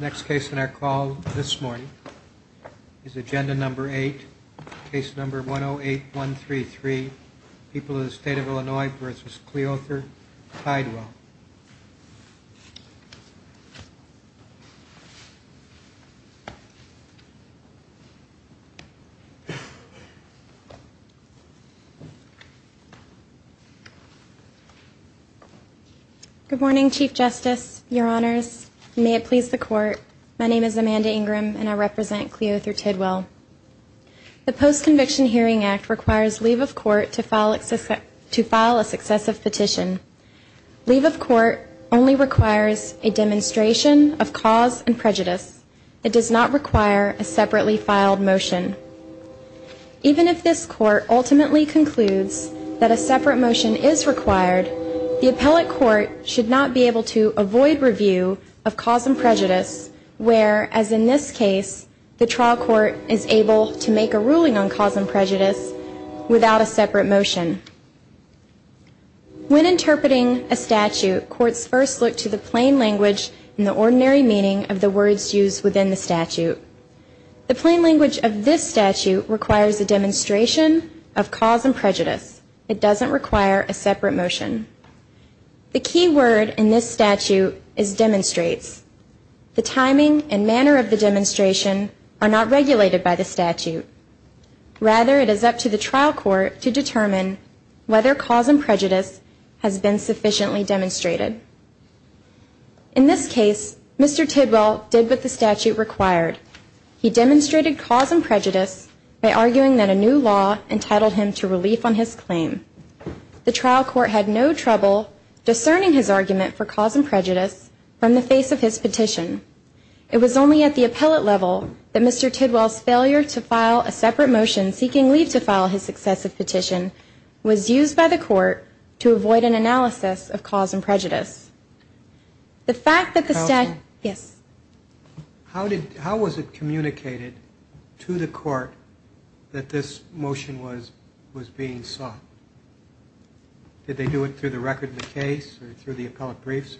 Next case in our call this morning is agenda number 8, case number 108133 People of the State of Illinois v. Cleother Tidwell Amanda Ingram Good morning Chief Justice, your honors, may it please the court, my name is Amanda Ingram and I represent Cleother Tidwell The Post-Conviction Hearing Act requires leave of court to file a successive petition. Leave of court only requires a demonstration of cause and prejudice. It does not require a separately filed motion. Even if this court ultimately concludes that a separate motion is required, the appellate court should not be able to avoid review of cause and prejudice where, as in this case, the trial court is able to make a ruling on cause and prejudice without a separate motion. When interpreting a statute, courts first look to the plain language and the ordinary meaning of the words used within the statute. The plain language of this statute requires a demonstration of cause and prejudice. It doesn't require a separate motion. The key word in this statute is demonstrates. The timing and manner of the demonstration are not regulated by the statute. Rather, it is up to the trial court to determine whether cause and prejudice has been sufficiently demonstrated. In this case, Mr. Tidwell did what the statute required. He demonstrated cause and prejudice by arguing that a new law entitled him to relief on his claim. The trial court had no trouble discerning his argument for cause and prejudice from the face of his petition. It was only at the appellate level that Mr. Tidwell's failure to file a separate motion seeking leave to file his successive petition was used by the court to avoid an analysis of cause and prejudice. How was it communicated to the court that this motion was being sought? Did they do it through the record of the case or through the appellate briefs?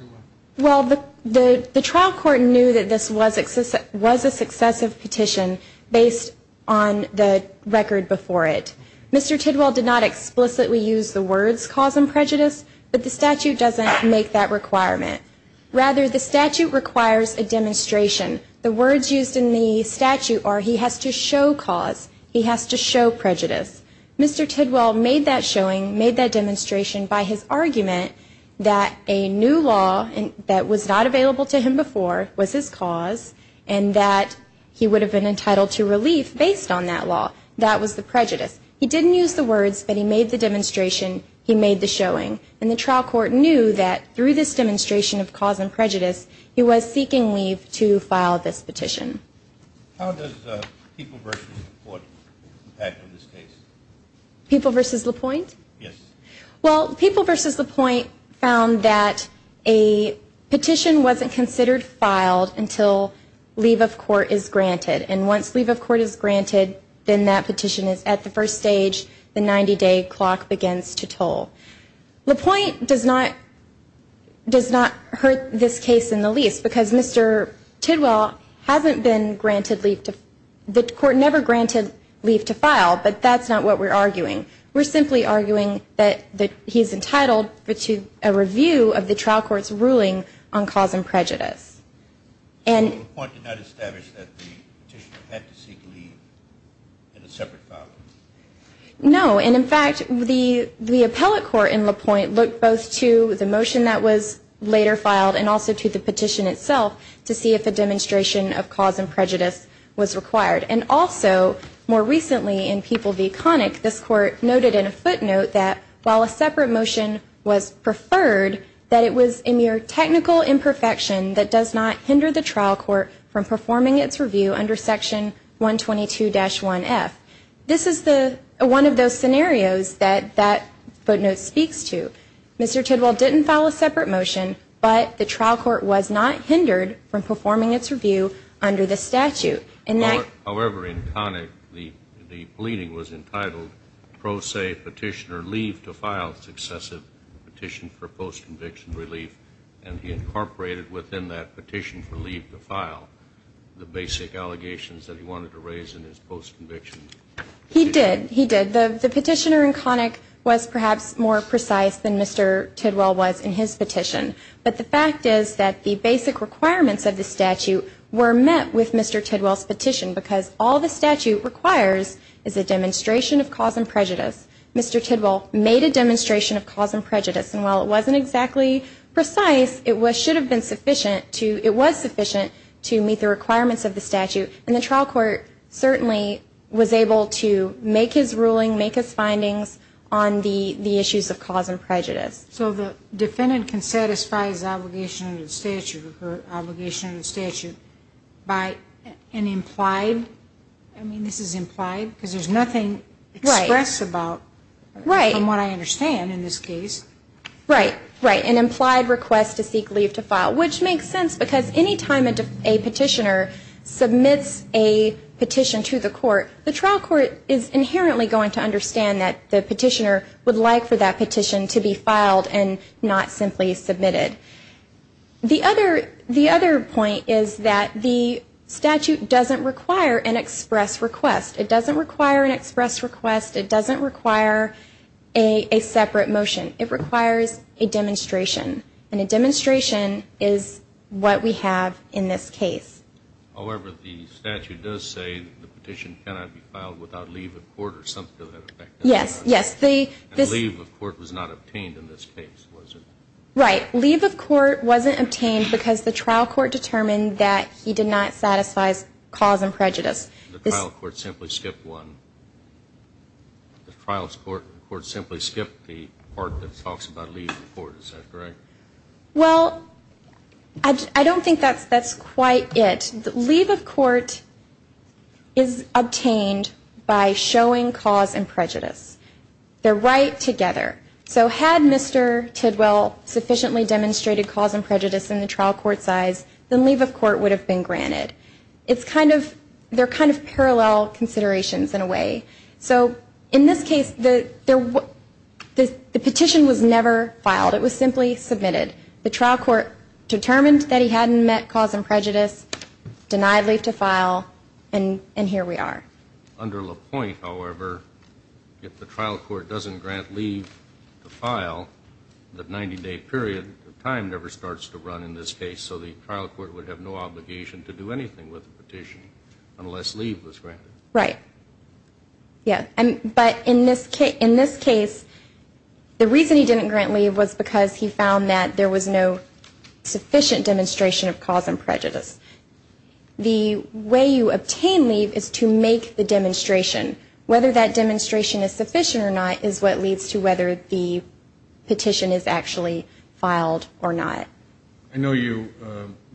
Well, the trial court knew that this was a successive petition based on the record before it. Mr. Tidwell did not explicitly use the words cause and prejudice, but the statute doesn't make that requirement. Rather, the statute requires a demonstration. The words used in the statute are he has to show cause, he has to show prejudice. Mr. Tidwell made that demonstration by his argument that a new law that was not available to him before was his cause and that he would have been entitled to relief based on that law. That was the prejudice. He didn't use the words, but he made the demonstration, he made the showing. And the trial court knew that through this demonstration of cause and prejudice, he was seeking leave to file this petition. How does People v. LaPointe impact on this case? People v. LaPointe? Yes. Well, People v. LaPointe found that a petition wasn't considered filed until leave of court is granted. And once leave of court is granted, then that petition is at the first stage, the 90-day clock begins to toll. LaPointe does not hurt this case in the least because Mr. Tidwell hasn't been granted leave to, the court never granted leave to file, but that's not what we're arguing. We're simply arguing that he's entitled to a review of the trial court's ruling on cause and prejudice. So LaPointe did not establish that the petitioner had to seek leave in a separate file? No. And in fact, the appellate court in LaPointe looked both to the motion that was later filed and also to the petition itself to see if a demonstration of cause and prejudice was required. And also, more recently in People v. Connick, this court noted in a footnote that while a separate motion was preferred, that it was a mere technical imperfection that does not hinder the trial court from performing its review under section 122-1F. This is one of those scenarios that that footnote speaks to. Mr. Tidwell didn't file a separate motion, but the trial court was not hindered from performing its review under the statute. However, in Connick, the pleading was entitled Pro Se Petitioner Leave to File Successive Petition for Post-Conviction Relief, and he incorporated within that petition for leave to file the basic allegations that he wanted to raise in his post-conviction. He did. He did. The petitioner in Connick was perhaps more precise than Mr. Tidwell was in his petition. But the fact is that the basic requirements of the statute were met with Mr. Tidwell's petition, because all the statute requires is a demonstration of cause and prejudice. Mr. Tidwell made a demonstration of cause and prejudice, and while it wasn't exactly precise, it should have been sufficient to, it was sufficient to meet the requirements of the statute. And the trial court certainly was able to make his ruling, make his findings on the issues of cause and prejudice. So the defendant can satisfy his obligation under the statute or her obligation under the statute by an implied, I mean, this is implied, because there's nothing expressed about, from what I understand in this case. Right. Right. An implied request to seek leave to file, which makes sense because anytime a petitioner submits a petition to the court, the trial court is inherently going to understand that the petitioner would like for that petition to be filed. And not simply submitted. The other, the other point is that the statute doesn't require an express request. It doesn't require an express request. It doesn't require a separate motion. It requires a demonstration. And a demonstration is what we have in this case. However, the statute does say that the petition cannot be filed without leave of court or something to that effect. Yes. Yes. And leave of court was not obtained in this case, was it? Right. Leave of court wasn't obtained because the trial court determined that he did not satisfy his cause and prejudice. The trial court simply skipped one. The trial court simply skipped the part that talks about leave of court. Is that correct? Well, I don't think that's quite it. Leave of court is obtained by showing cause and prejudice. They're right together. So had Mr. Tidwell sufficiently demonstrated cause and prejudice in the trial court size, then leave of court would have been granted. It's kind of, they're kind of parallel considerations in a way. So in this case, the petition was never filed. It was simply submitted. The trial court determined that he hadn't met cause and prejudice, denied leave to file, and here we are. Under LaPointe, however, if the trial court doesn't grant leave to file, the 90-day period of time never starts to run in this case. So the trial court would have no obligation to do anything with the petition unless leave was granted. Right. Yeah. But in this case, the reason he didn't grant leave was because he found that there was no sufficient demonstration of cause and prejudice. The way you obtain leave is to make the demonstration. Whether that demonstration is sufficient or not is what leads to whether the petition is actually filed or not. I know you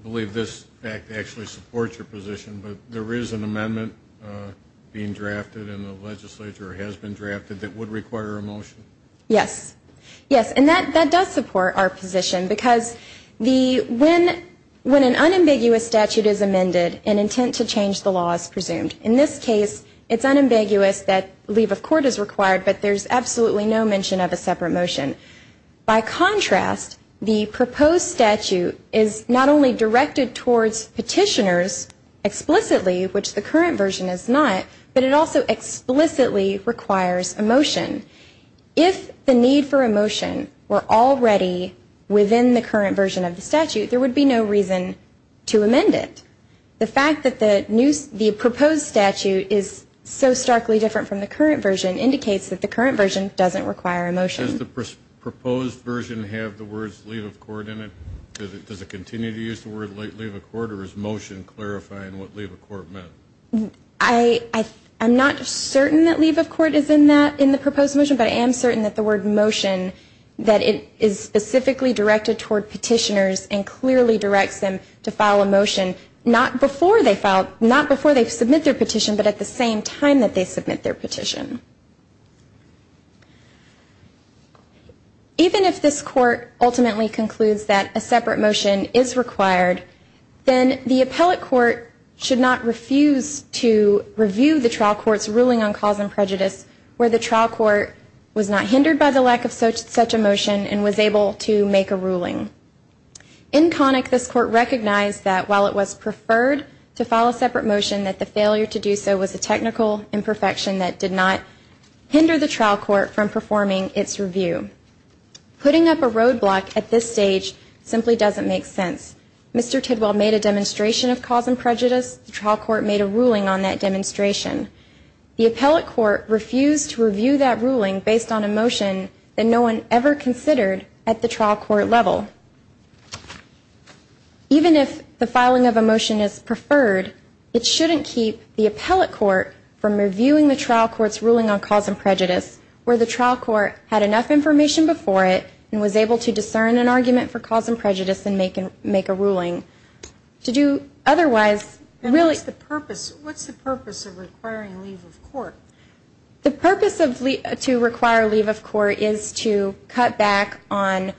believe this act actually supports your position, but there is an amendment being drafted and the legislature has been drafted that would require a motion. Yes. Yes, and that does support our position because when an unambiguous statute is amended, an intent to change the law is presumed. In this case, it's unambiguous that leave of court is required, but there's absolutely no mention of a separate motion. By contrast, the proposed statute is not only directed towards petitioners explicitly, which the current version is not, but it also explicitly requires a motion. If the need for a motion were already within the current version of the statute, there would be no reason to amend it. The fact that the proposed statute is so starkly different from the current version indicates that the current version doesn't require a motion. Does the proposed version have the words leave of court in it? Does it continue to use the word leave of court, or is motion clarifying what leave of court meant? I'm not certain that leave of court is in the proposed motion, but I am certain that the word motion, that it is specifically directed toward petitioners and clearly directs them to file a motion not before they submit their petition, but at the same time that they submit their petition. Even if this court ultimately concludes that a separate motion is required, then the appellate court should not refuse to review the trial court's ruling on cause and prejudice where the trial court was not hindered by the lack of such a motion and was able to make a ruling. In Connick, this court recognized that while it was preferred to file a separate motion, that the failure to do so was a technical imperfection that did not hinder the trial court from performing its review. Putting up a roadblock at this stage simply doesn't make sense. Mr. Tidwell made a demonstration of cause and prejudice. The trial court made a ruling on that demonstration. The appellate court refused to review that ruling based on a motion that no one ever considered at the trial court level. Even if the filing of a motion is preferred, it shouldn't keep the appellate court from reviewing the trial court's ruling on cause and prejudice where the trial court had enough information before it and was able to discern an argument for cause and prejudice and make a ruling. To do otherwise really... What's the purpose of requiring leave of court? The purpose to require leave of court is to cut back on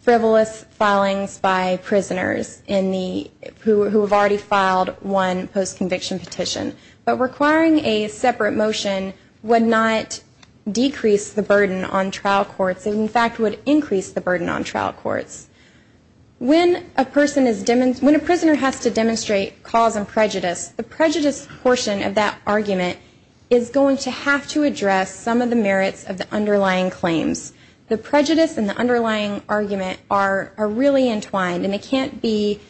frivolous filings by prisoners who have already filed one post-conviction petition. But requiring a separate motion would not decrease the burden on trial courts. It, in fact, would increase the burden on trial courts. When a prisoner has to demonstrate cause and prejudice, the prejudice portion of that argument is going to have to address some of the merits of the underlying claims. The prejudice and the underlying argument are really entwined, and it can't be...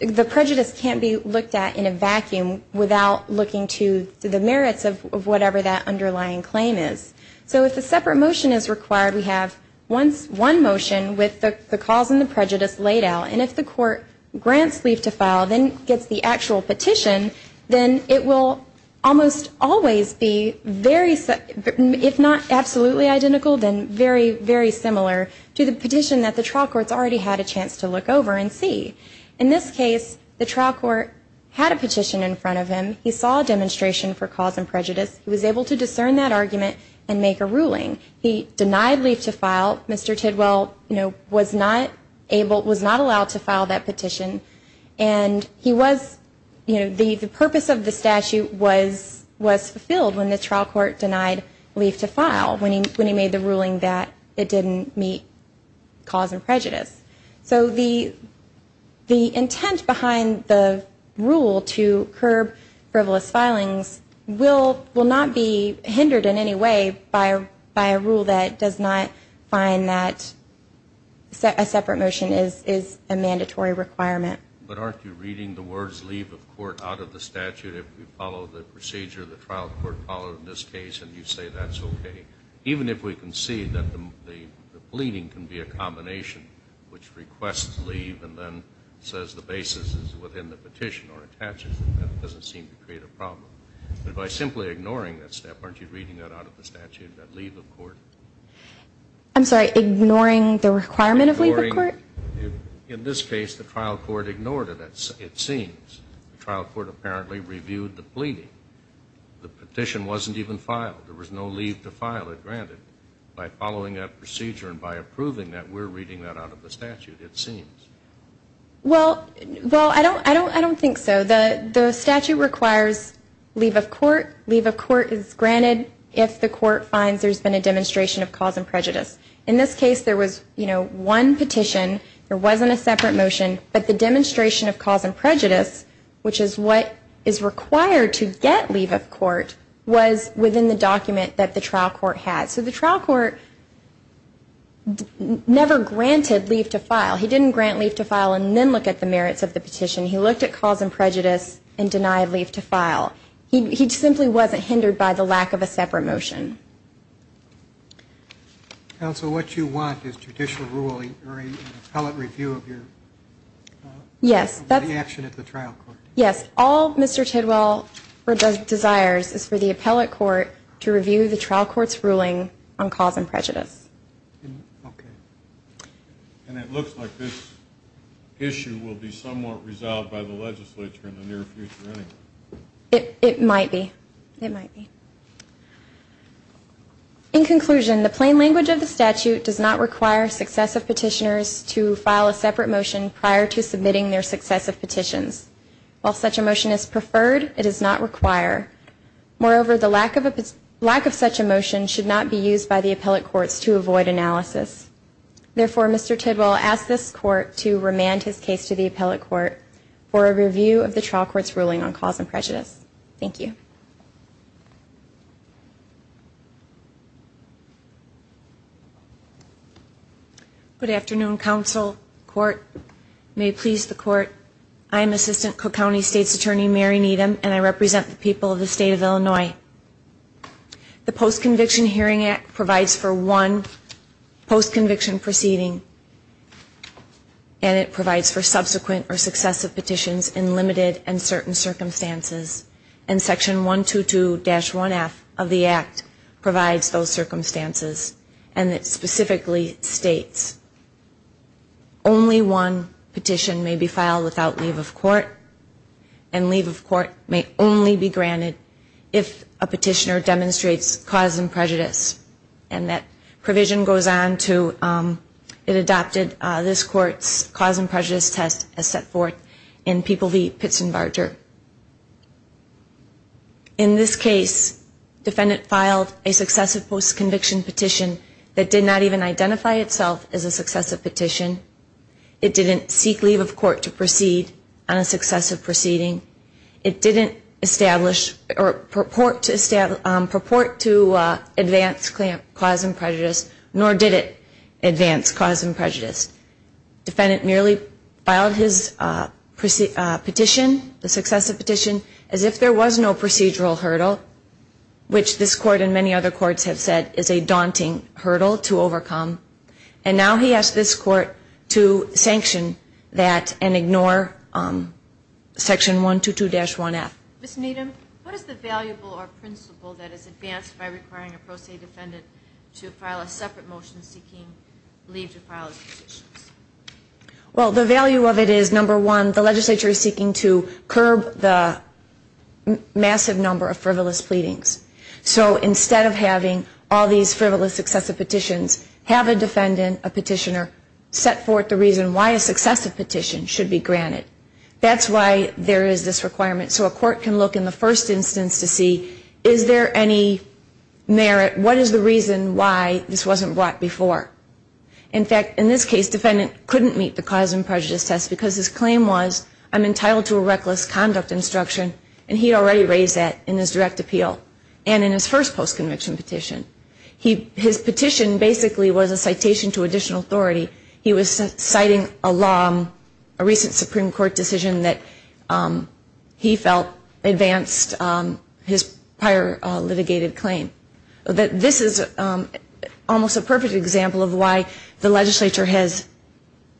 The prejudice can't be looked at in a vacuum without looking to the merits of whatever that underlying claim is. So if a separate motion is required, we have one motion with the cause and the prejudice laid out, and if the court grants leave to file, then gets the actual petition, then it will almost always be very... If not absolutely identical, then very, very similar to the petition that the trial courts already had a chance to look over and see. In this case, the trial court had a petition in front of him. He saw a demonstration for cause and prejudice. He was able to discern that argument and make a ruling. He denied leave to file. Mr. Tidwell was not allowed to file that petition, and the purpose of the statute was fulfilled when the trial court denied leave to file, when he made the ruling that it didn't meet cause and prejudice. So the intent behind the rule to curb frivolous filings will not be hindered in any way by a rule that does not find that a separate motion is a mandatory requirement. But aren't you reading the words leave of court out of the statute? If we follow the procedure the trial court followed in this case and you say that's okay, even if we can see that the pleading can be a combination which requests leave and then says the basis is within the petition or attaches to it, that doesn't seem to create a problem. But by simply ignoring that step, aren't you reading that out of the statute, that leave of court? I'm sorry, ignoring the requirement of leave of court? In this case, the trial court ignored it, it seems. The trial court apparently reviewed the pleading. The petition wasn't even filed. There was no leave to file it, granted. By following that procedure and by approving that, we're reading that out of the statute, it seems. Well, I don't think so. The statute requires leave of court. Leave of court is granted if the court finds there's been a demonstration of cause and prejudice. In this case, there was one petition, there wasn't a separate motion, but the demonstration of cause and prejudice, which is what is required to get leave of court, was within the document that the trial court had. So the trial court never granted leave to file. He didn't grant leave to file and then look at the merits of the petition. He looked at cause and prejudice and denied leave to file. He simply wasn't hindered by the lack of a separate motion. Counsel, what you want is judicial ruling or an appellate review of your action at the trial court. Yes, all Mr. Tidwell desires is for the appellate court to review the trial court's ruling on cause and prejudice. Okay. And it looks like this issue will be somewhat resolved by the legislature in the near future anyway. It might be. It might be. In conclusion, the plain language of the statute does not require successive petitioners to file a separate motion prior to submitting their successive petitions. While such a motion is preferred, it is not required. Moreover, the lack of such a motion should not be used by the appellate courts to avoid analysis. Therefore, Mr. Tidwell asks this court to remand his case to the appellate court for a review of the trial court's ruling on cause and prejudice. Thank you. Good afternoon, counsel, court. May it please the court, I am Assistant Cook County State's Attorney Mary Needham and I represent the people of the state of Illinois. The Post-Conviction Hearing Act provides for one post-conviction proceeding and it provides for subsequent or successive petitions in limited and certain circumstances. And Section 122-1F of the Act provides those circumstances and it specifically states only one petition may be filed without leave of court and leave of court may only be granted if a petitioner demonstrates cause and prejudice. And that provision goes on to it adopted this court's cause and prejudice test as set forth in People v. Pits and Barger. In this case, defendant filed a successive post-conviction petition that did not even identify itself as a successive petition. It didn't seek leave of court to proceed on a successive proceeding. It didn't establish or purport to advance cause and prejudice, nor did it advance cause and prejudice. Defendant merely filed his petition, the successive petition, as if there was no procedural hurdle, which this court and many other courts have said is a daunting hurdle to overcome. And now he asks this court to sanction that and ignore Section 122-1F. Ms. Needham, what is the valuable or principle that is advanced by requiring a pro se defendant to file a separate motion seeking leave to file his petitions? Well, the value of it is, number one, the legislature is seeking to curb the massive number of frivolous pleadings. So instead of having all these frivolous successive petitions, have a defendant, a petitioner, set forth the reason why a successive petition should be granted. That's why there is this requirement. So a court can look in the first instance to see is there any merit, what is the reason why this wasn't brought before. In fact, in this case, defendant couldn't meet the cause and prejudice test because his claim was I'm entitled to a reckless conduct instruction, and he already raised that in his direct appeal and in his first post-conviction petition. His petition basically was a citation to additional authority. He was citing a law, a recent Supreme Court decision that he felt advanced his prior litigated claim. This is almost a perfect example of why the legislature has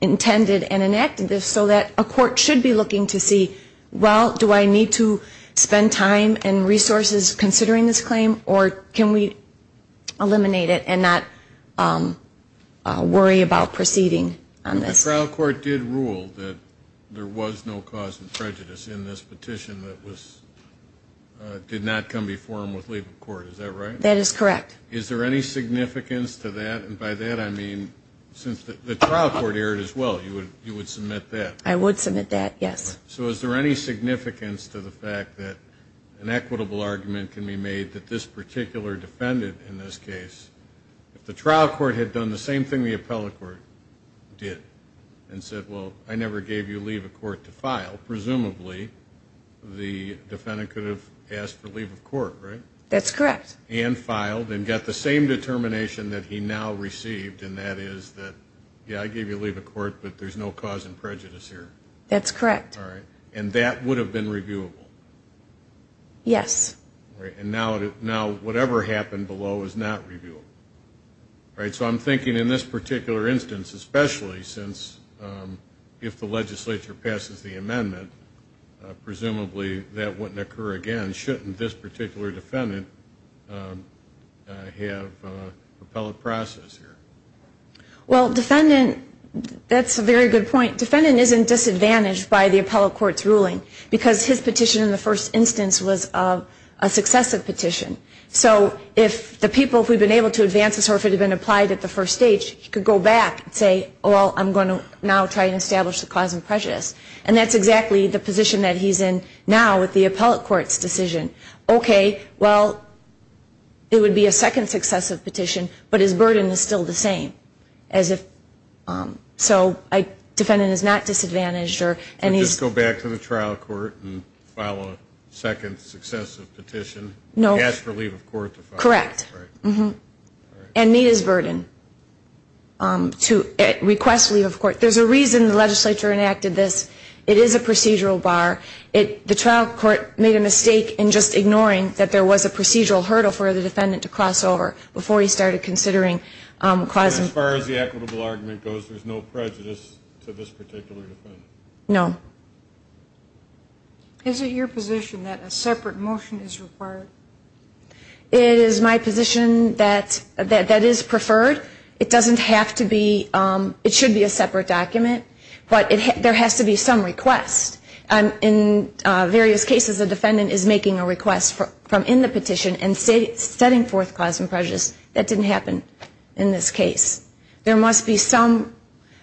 intended and enacted this so that a court should be looking to see, well, do I need to spend time and resources considering this claim, or can we eliminate it and not worry about proceeding on this? The trial court did rule that there was no cause of prejudice in this petition that did not come before him with leave of court, is that right? That is correct. Is there any significance to that? And by that I mean since the trial court erred as well, you would submit that? I would submit that, yes. So is there any significance to the fact that an equitable argument can be made that this particular defendant in this case, if the trial court had done the same thing the appellate court did and said, well, I never gave you leave of court to file, presumably the defendant could have asked for leave of court, right? That's correct. And filed and got the same determination that he now received, and that is that, yeah, I gave you leave of court, but there's no cause of prejudice here. That's correct. All right. And that would have been reviewable? Yes. All right. And now whatever happened below is not reviewable, right? So I'm thinking in this particular instance, especially since if the legislature passes the amendment, presumably that wouldn't occur again. Shouldn't this particular defendant have appellate process here? Well, defendant, that's a very good point. Defendant isn't disadvantaged by the appellate court's ruling because his petition in the first instance was a successive petition. So if the people who have been able to advance this, or if it had been applied at the first stage, he could go back and say, well, I'm going to now try and establish the cause of prejudice. And that's exactly the position that he's in now with the appellate court's decision. Okay, well, it would be a second successive petition, but his burden is still the same. So defendant is not disadvantaged. Just go back to the trial court and file a second successive petition. No. Ask for leave of court to file. Correct. And meet his burden. Request leave of court. There's a reason the legislature enacted this. It is a procedural bar. The trial court made a mistake in just ignoring that there was a procedural hurdle for the defendant to cross over before he started considering causing. As far as the equitable argument goes, there's no prejudice to this particular defendant? No. Is it your position that a separate motion is required? It is my position that that is preferred. It doesn't have to be. It should be a separate document. But there has to be some request. In various cases, a defendant is making a request from in the petition and setting forth cause of prejudice. That didn't happen in this case.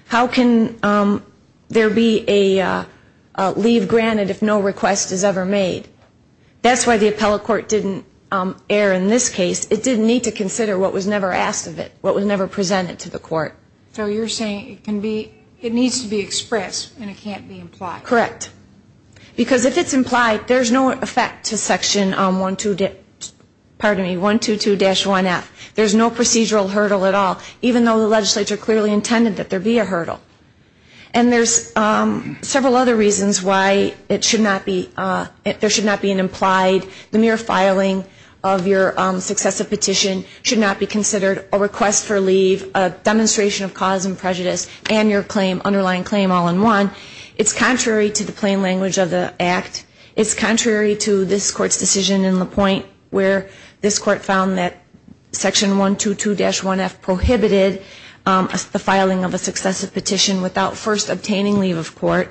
How can there be a leave granted if no request is ever made? That's why the appellate court didn't err in this case. It didn't need to consider what was never asked of it, what was never presented to the court. So you're saying it needs to be expressed and it can't be implied? Correct. Because if it's implied, there's no effect to section 122-1F. There's no procedural hurdle at all. Even though the legislature clearly intended that there be a hurdle. And there's several other reasons why there should not be an implied, the mere filing of your successive petition should not be considered a request for leave, a demonstration of cause and prejudice, and your underlying claim all in one. It's contrary to the plain language of the Act. It's contrary to this Court's decision in LaPointe, where this Court found that section 122-1F prohibited the filing of a successive petition without first obtaining leave of court.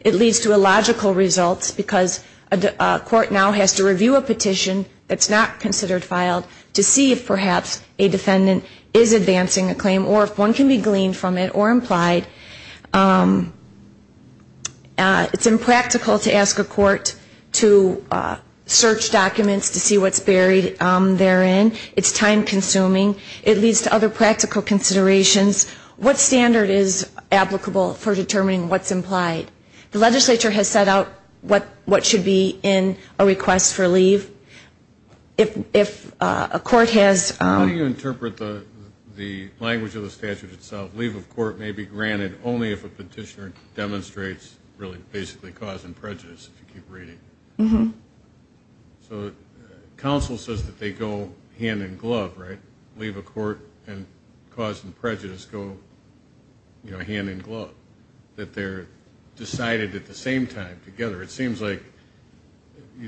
It leads to illogical results because a court now has to review a petition that's not considered filed to see if perhaps a defendant is advancing a claim or if one can be gleaned from it or implied. It's impractical to ask a court to search documents to see what's buried therein. It's time-consuming. It leads to other practical considerations. What standard is applicable for determining what's implied? The legislature has set out what should be in a request for leave. If a court has... How do you interpret the language of the statute itself, that leave of court may be granted only if a petitioner demonstrates, really, basically cause and prejudice, if you keep reading? So counsel says that they go hand in glove, right? Leave of court and cause and prejudice go, you know, hand in glove, that they're decided at the same time together. It seems like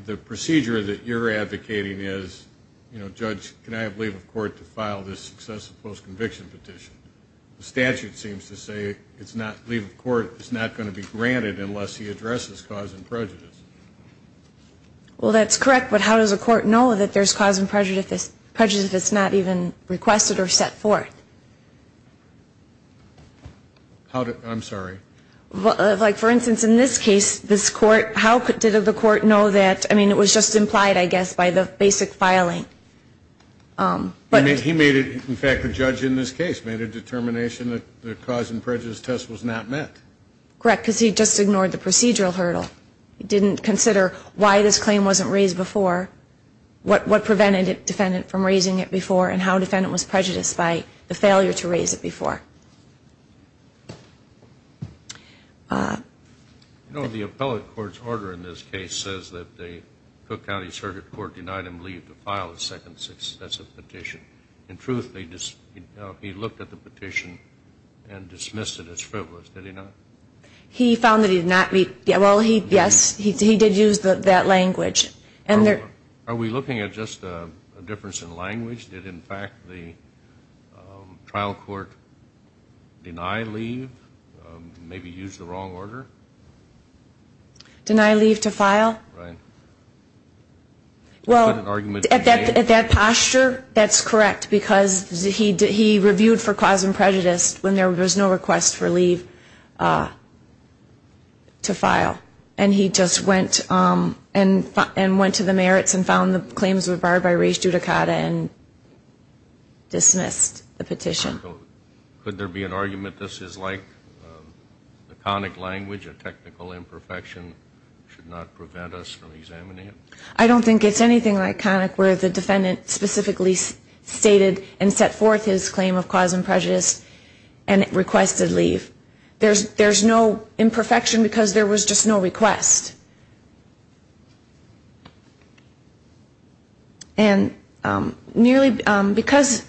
the procedure that you're advocating is, you know, to file this excessive post-conviction petition. The statute seems to say leave of court is not going to be granted unless he addresses cause and prejudice. Well, that's correct. But how does a court know that there's cause and prejudice if it's not even requested or set forth? I'm sorry? Like, for instance, in this case, this court, how did the court know that, I mean, it was just implied, I guess, by the basic filing. He made it, in fact, the judge in this case made a determination that the cause and prejudice test was not met. Correct, because he just ignored the procedural hurdle. He didn't consider why this claim wasn't raised before, what prevented a defendant from raising it before, and how a defendant was prejudiced by the failure to raise it before. You know, the appellate court's order in this case says that the Cook County Circuit Court denied him leave to file the second excessive petition. In truth, he looked at the petition and dismissed it as frivolous. Did he not? He found that he did not meet, well, yes, he did use that language. Are we looking at just a difference in language? Did, in fact, the trial court deny leave, maybe use the wrong order? Deny leave to file? Right. Well, at that posture, that's correct, because he reviewed for cause and prejudice when there was no request for leave to file. And he just went to the merits and found the claims were barred by res judicata and dismissed the petition. Could there be an argument this is like the conic language, a technical imperfection should not prevent us from examining it? I don't think it's anything like conic, where the defendant specifically stated and set forth his claim of cause and prejudice and requested leave. There's no imperfection because there was just no request. And merely because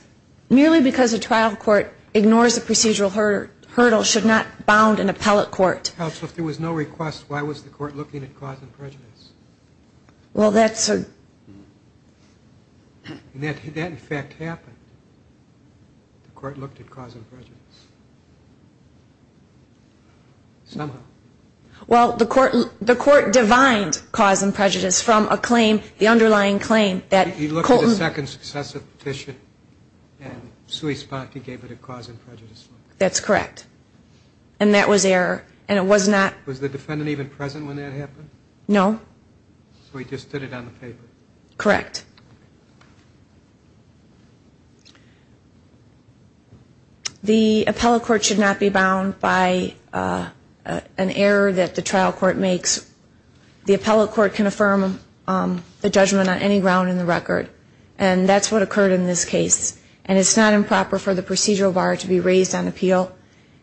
a trial court ignores a procedural hurdle should not bound an appellate court. Counsel, if there was no request, why was the court looking at cause and prejudice? Well, that's a... That, in fact, happened. The court looked at cause and prejudice. Somehow. Well, the court divined cause and prejudice from a claim, the underlying claim that Colton... He looked at the second successive petition, and sui spati gave it a cause and prejudice look. That's correct. And that was error, and it was not... Was the defendant even present when that happened? No. So he just did it on the paper. Correct. The appellate court should not be bound by an error that the trial court makes. The appellate court can affirm the judgment on any ground in the record, and that's what occurred in this case. And it's not improper for the procedural bar to be raised on appeal.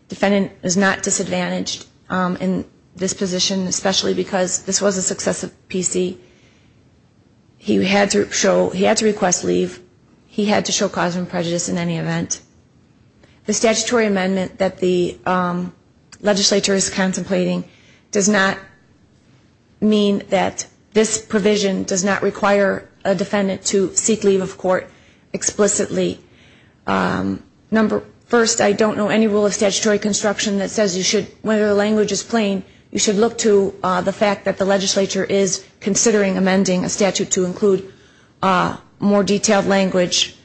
Defendant is not disadvantaged in this position, especially because this was a successive PC. He had to request leave. He had to show cause and prejudice in any event. The statutory amendment that the legislature is contemplating does not mean that this provision does not require a defendant to seek leave of court explicitly. First, I don't know any rule of statutory construction that says you should, when the language is plain, you should look to the fact that the legislature is considering amending a statute to include more detailed language.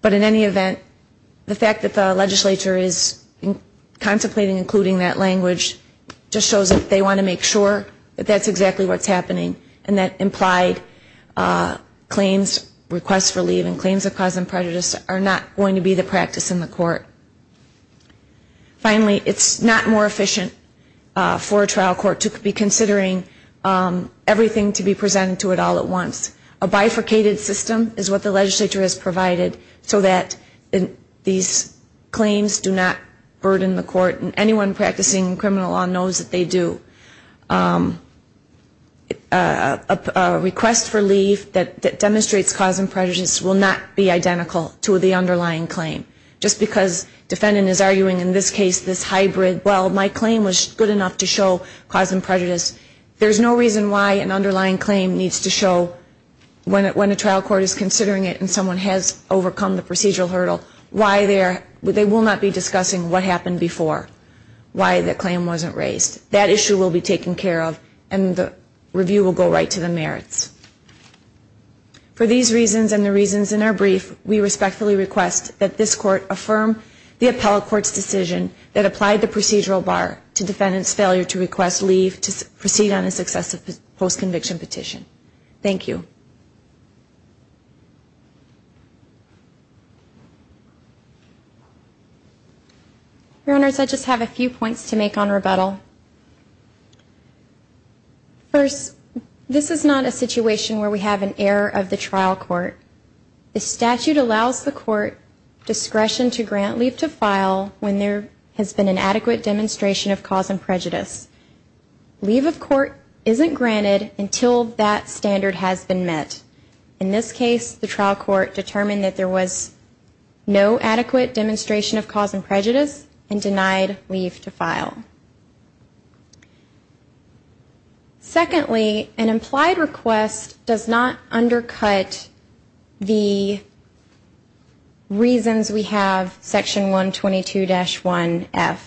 But in any event, the fact that the legislature is contemplating including that language just shows that they want to make sure that that's exactly what's happening and that implied claims, requests for leave, and claims of cause and prejudice are not going to be the practice in the court. Finally, it's not more efficient for a trial court to be considering everything to be presented to it all at once. A bifurcated system is what the legislature has provided so that these claims do not burden the court and anyone practicing criminal law knows that they do. A request for leave that demonstrates cause and prejudice will not be identical to the underlying claim, just because defendant is arguing in this case this hybrid, well, my claim was good enough to show cause and prejudice. There's no reason why an underlying claim needs to show when a trial court is considering it and someone has overcome the procedural hurdle, why they will not be discussing what happened before, why the claim wasn't raised. That issue will be taken care of and the review will go right to the merits. For these reasons and the reasons in our brief, we respectfully request that this court affirm the appellate court's decision that applied the procedural bar to defendant's failure to request leave to proceed on a successive post-conviction petition. Thank you. Your Honors, I just have a few points to make on rebuttal. First, this is not a situation where we have an error of the trial court. The statute allows the court discretion to grant leave to file when there has been an adequate demonstration of cause and prejudice. Leave of court isn't granted until that standard has been met. In this case, the trial court determined that there was no adequate demonstration of cause and prejudice and denied leave to file. Secondly, an implied request does not undercut the reasons we have section 122-1F.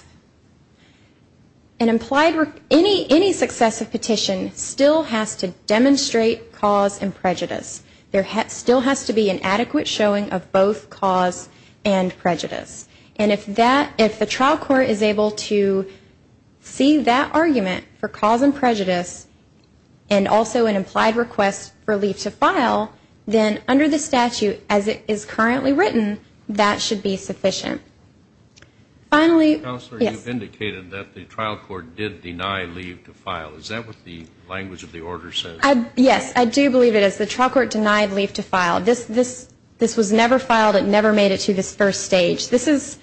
An implied request, any successive petition still has to demonstrate cause and prejudice. There still has to be an adequate showing of both cause and prejudice. And if the trial court is able to see that argument for cause and prejudice and also an implied request for leave to file, then under the statute as it is currently written, that should be sufficient. Counselor, you indicated that the trial court did deny leave to file. Is that what the language of the order says? Yes, I do believe it is. The trial court denied leave to file. This was never filed. It never made it to this first stage. This is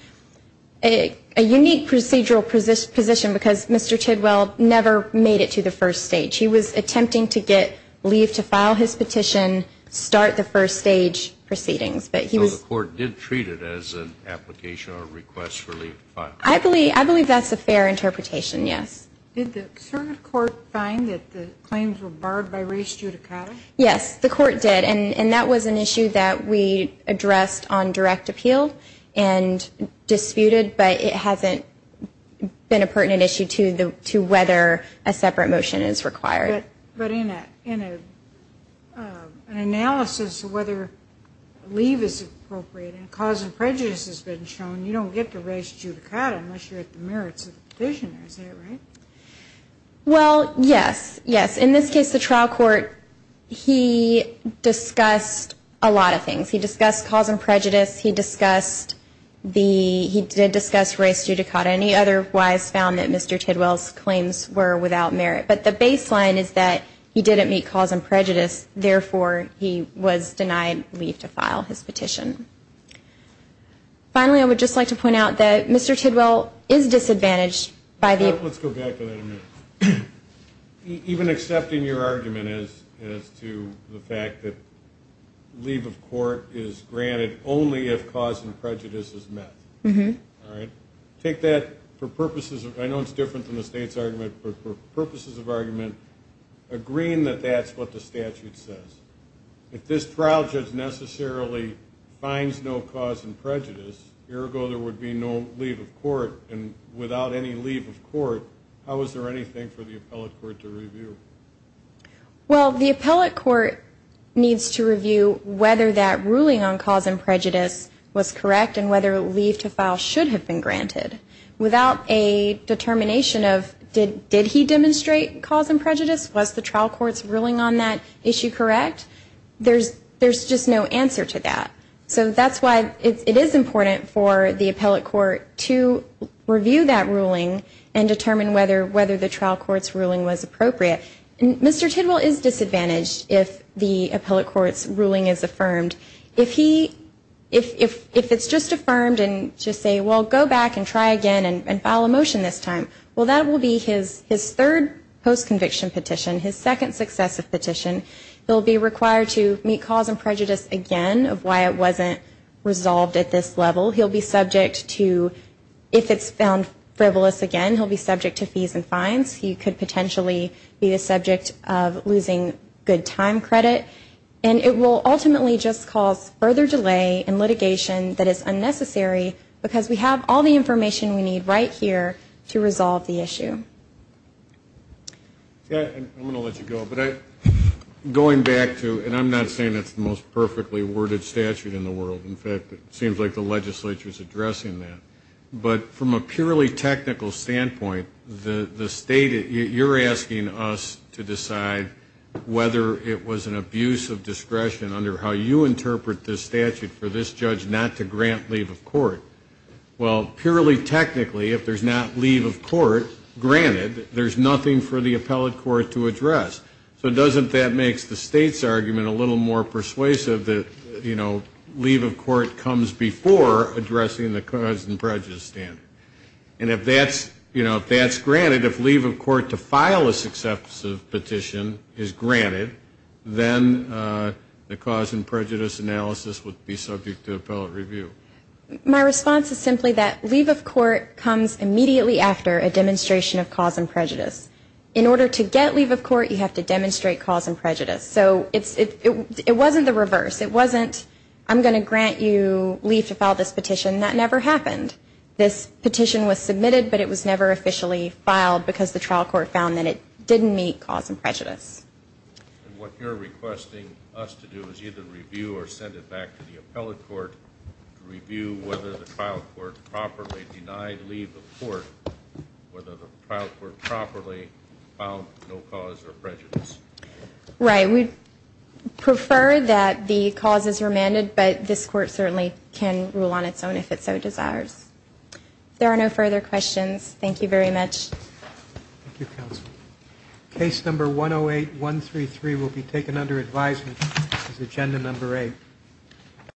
a unique procedural position because Mr. Tidwell never made it to the first stage. He was attempting to get leave to file his petition, start the first stage proceedings. So the court did treat it as an application or a request for leave to file? I believe that's a fair interpretation, yes. Did the circuit court find that the claims were barred by res judicata? Yes, the court did. And that was an issue that we addressed on direct appeal and disputed, but it hasn't been a pertinent issue to whether a separate motion is required. But in an analysis of whether leave is appropriate and cause and prejudice has been shown, you don't get the res judicata unless you're at the merits of the petition. Is that right? Well, yes, yes. In this case, the trial court, he discussed a lot of things. He discussed cause and prejudice. He did discuss res judicata, and he otherwise found that Mr. Tidwell's claims were without merit. But the baseline is that he didn't meet cause and prejudice, therefore he was denied leave to file his petition. Finally, I would just like to point out that Mr. Tidwell is disadvantaged. Let's go back to that a minute. Even accepting your argument as to the fact that leave of court is granted only if cause and prejudice is met. All right? Take that for purposes of, I know it's different than the state's argument, but for purposes of argument, agreeing that that's what the statute says. If this trial judge necessarily finds no cause and prejudice, ergo there would be no leave of court, and without any leave of court, how is there anything for the appellate court to review? Well, the appellate court needs to review whether that ruling on cause and prejudice was correct and whether leave to file should have been granted. Without a determination of did he demonstrate cause and prejudice, was the trial court's ruling on that issue correct, there's just no answer to that. So that's why it is important for the appellate court to review that ruling and determine whether the trial court's ruling was appropriate. Mr. Tidwell is disadvantaged if the appellate court's ruling is affirmed. If it's just affirmed and just say, well, go back and try again and file a motion this time, well, that will be his third post-conviction petition, his second successive petition. He'll be required to meet cause and prejudice again of why it wasn't resolved at this level. He'll be subject to, if it's found frivolous again, he'll be subject to fees and fines. He could potentially be the subject of losing good time credit. And it will ultimately just cause further delay in litigation that is unnecessary because we have all the information we need right here to resolve the issue. I'm going to let you go, but going back to, and I'm not saying that's the most perfectly worded statute in the world. In fact, it seems like the legislature is addressing that. But from a purely technical standpoint, the state, you're asking us to decide whether it was an abuse of discretion under how you interpret this statute for this judge not to grant leave of court. Well, purely technically, if there's not leave of court granted, there's nothing for the appellate court to address. So doesn't that make the state's argument a little more persuasive that, you know, leave of court comes before addressing the cause and prejudice standard? And if that's granted, if leave of court to file a successive petition is granted, then the cause and prejudice analysis would be subject to appellate review. My response is simply that leave of court comes immediately after a demonstration of cause and prejudice. In order to get leave of court, you have to demonstrate cause and prejudice. So it wasn't the reverse. It wasn't I'm going to grant you leave to file this petition. That never happened. This petition was submitted, but it was never officially filed because the trial court found that it didn't meet cause and prejudice. And what you're requesting us to do is either review or send it back to the appellate court to review whether the trial court properly denied leave of court, whether the trial court properly filed no cause or prejudice. Right. We'd prefer that the cause is remanded, but this court certainly can rule on its own if it so desires. If there are no further questions, thank you very much. Thank you, counsel. Case number 108133 will be taken under advisement. This is agenda number 8.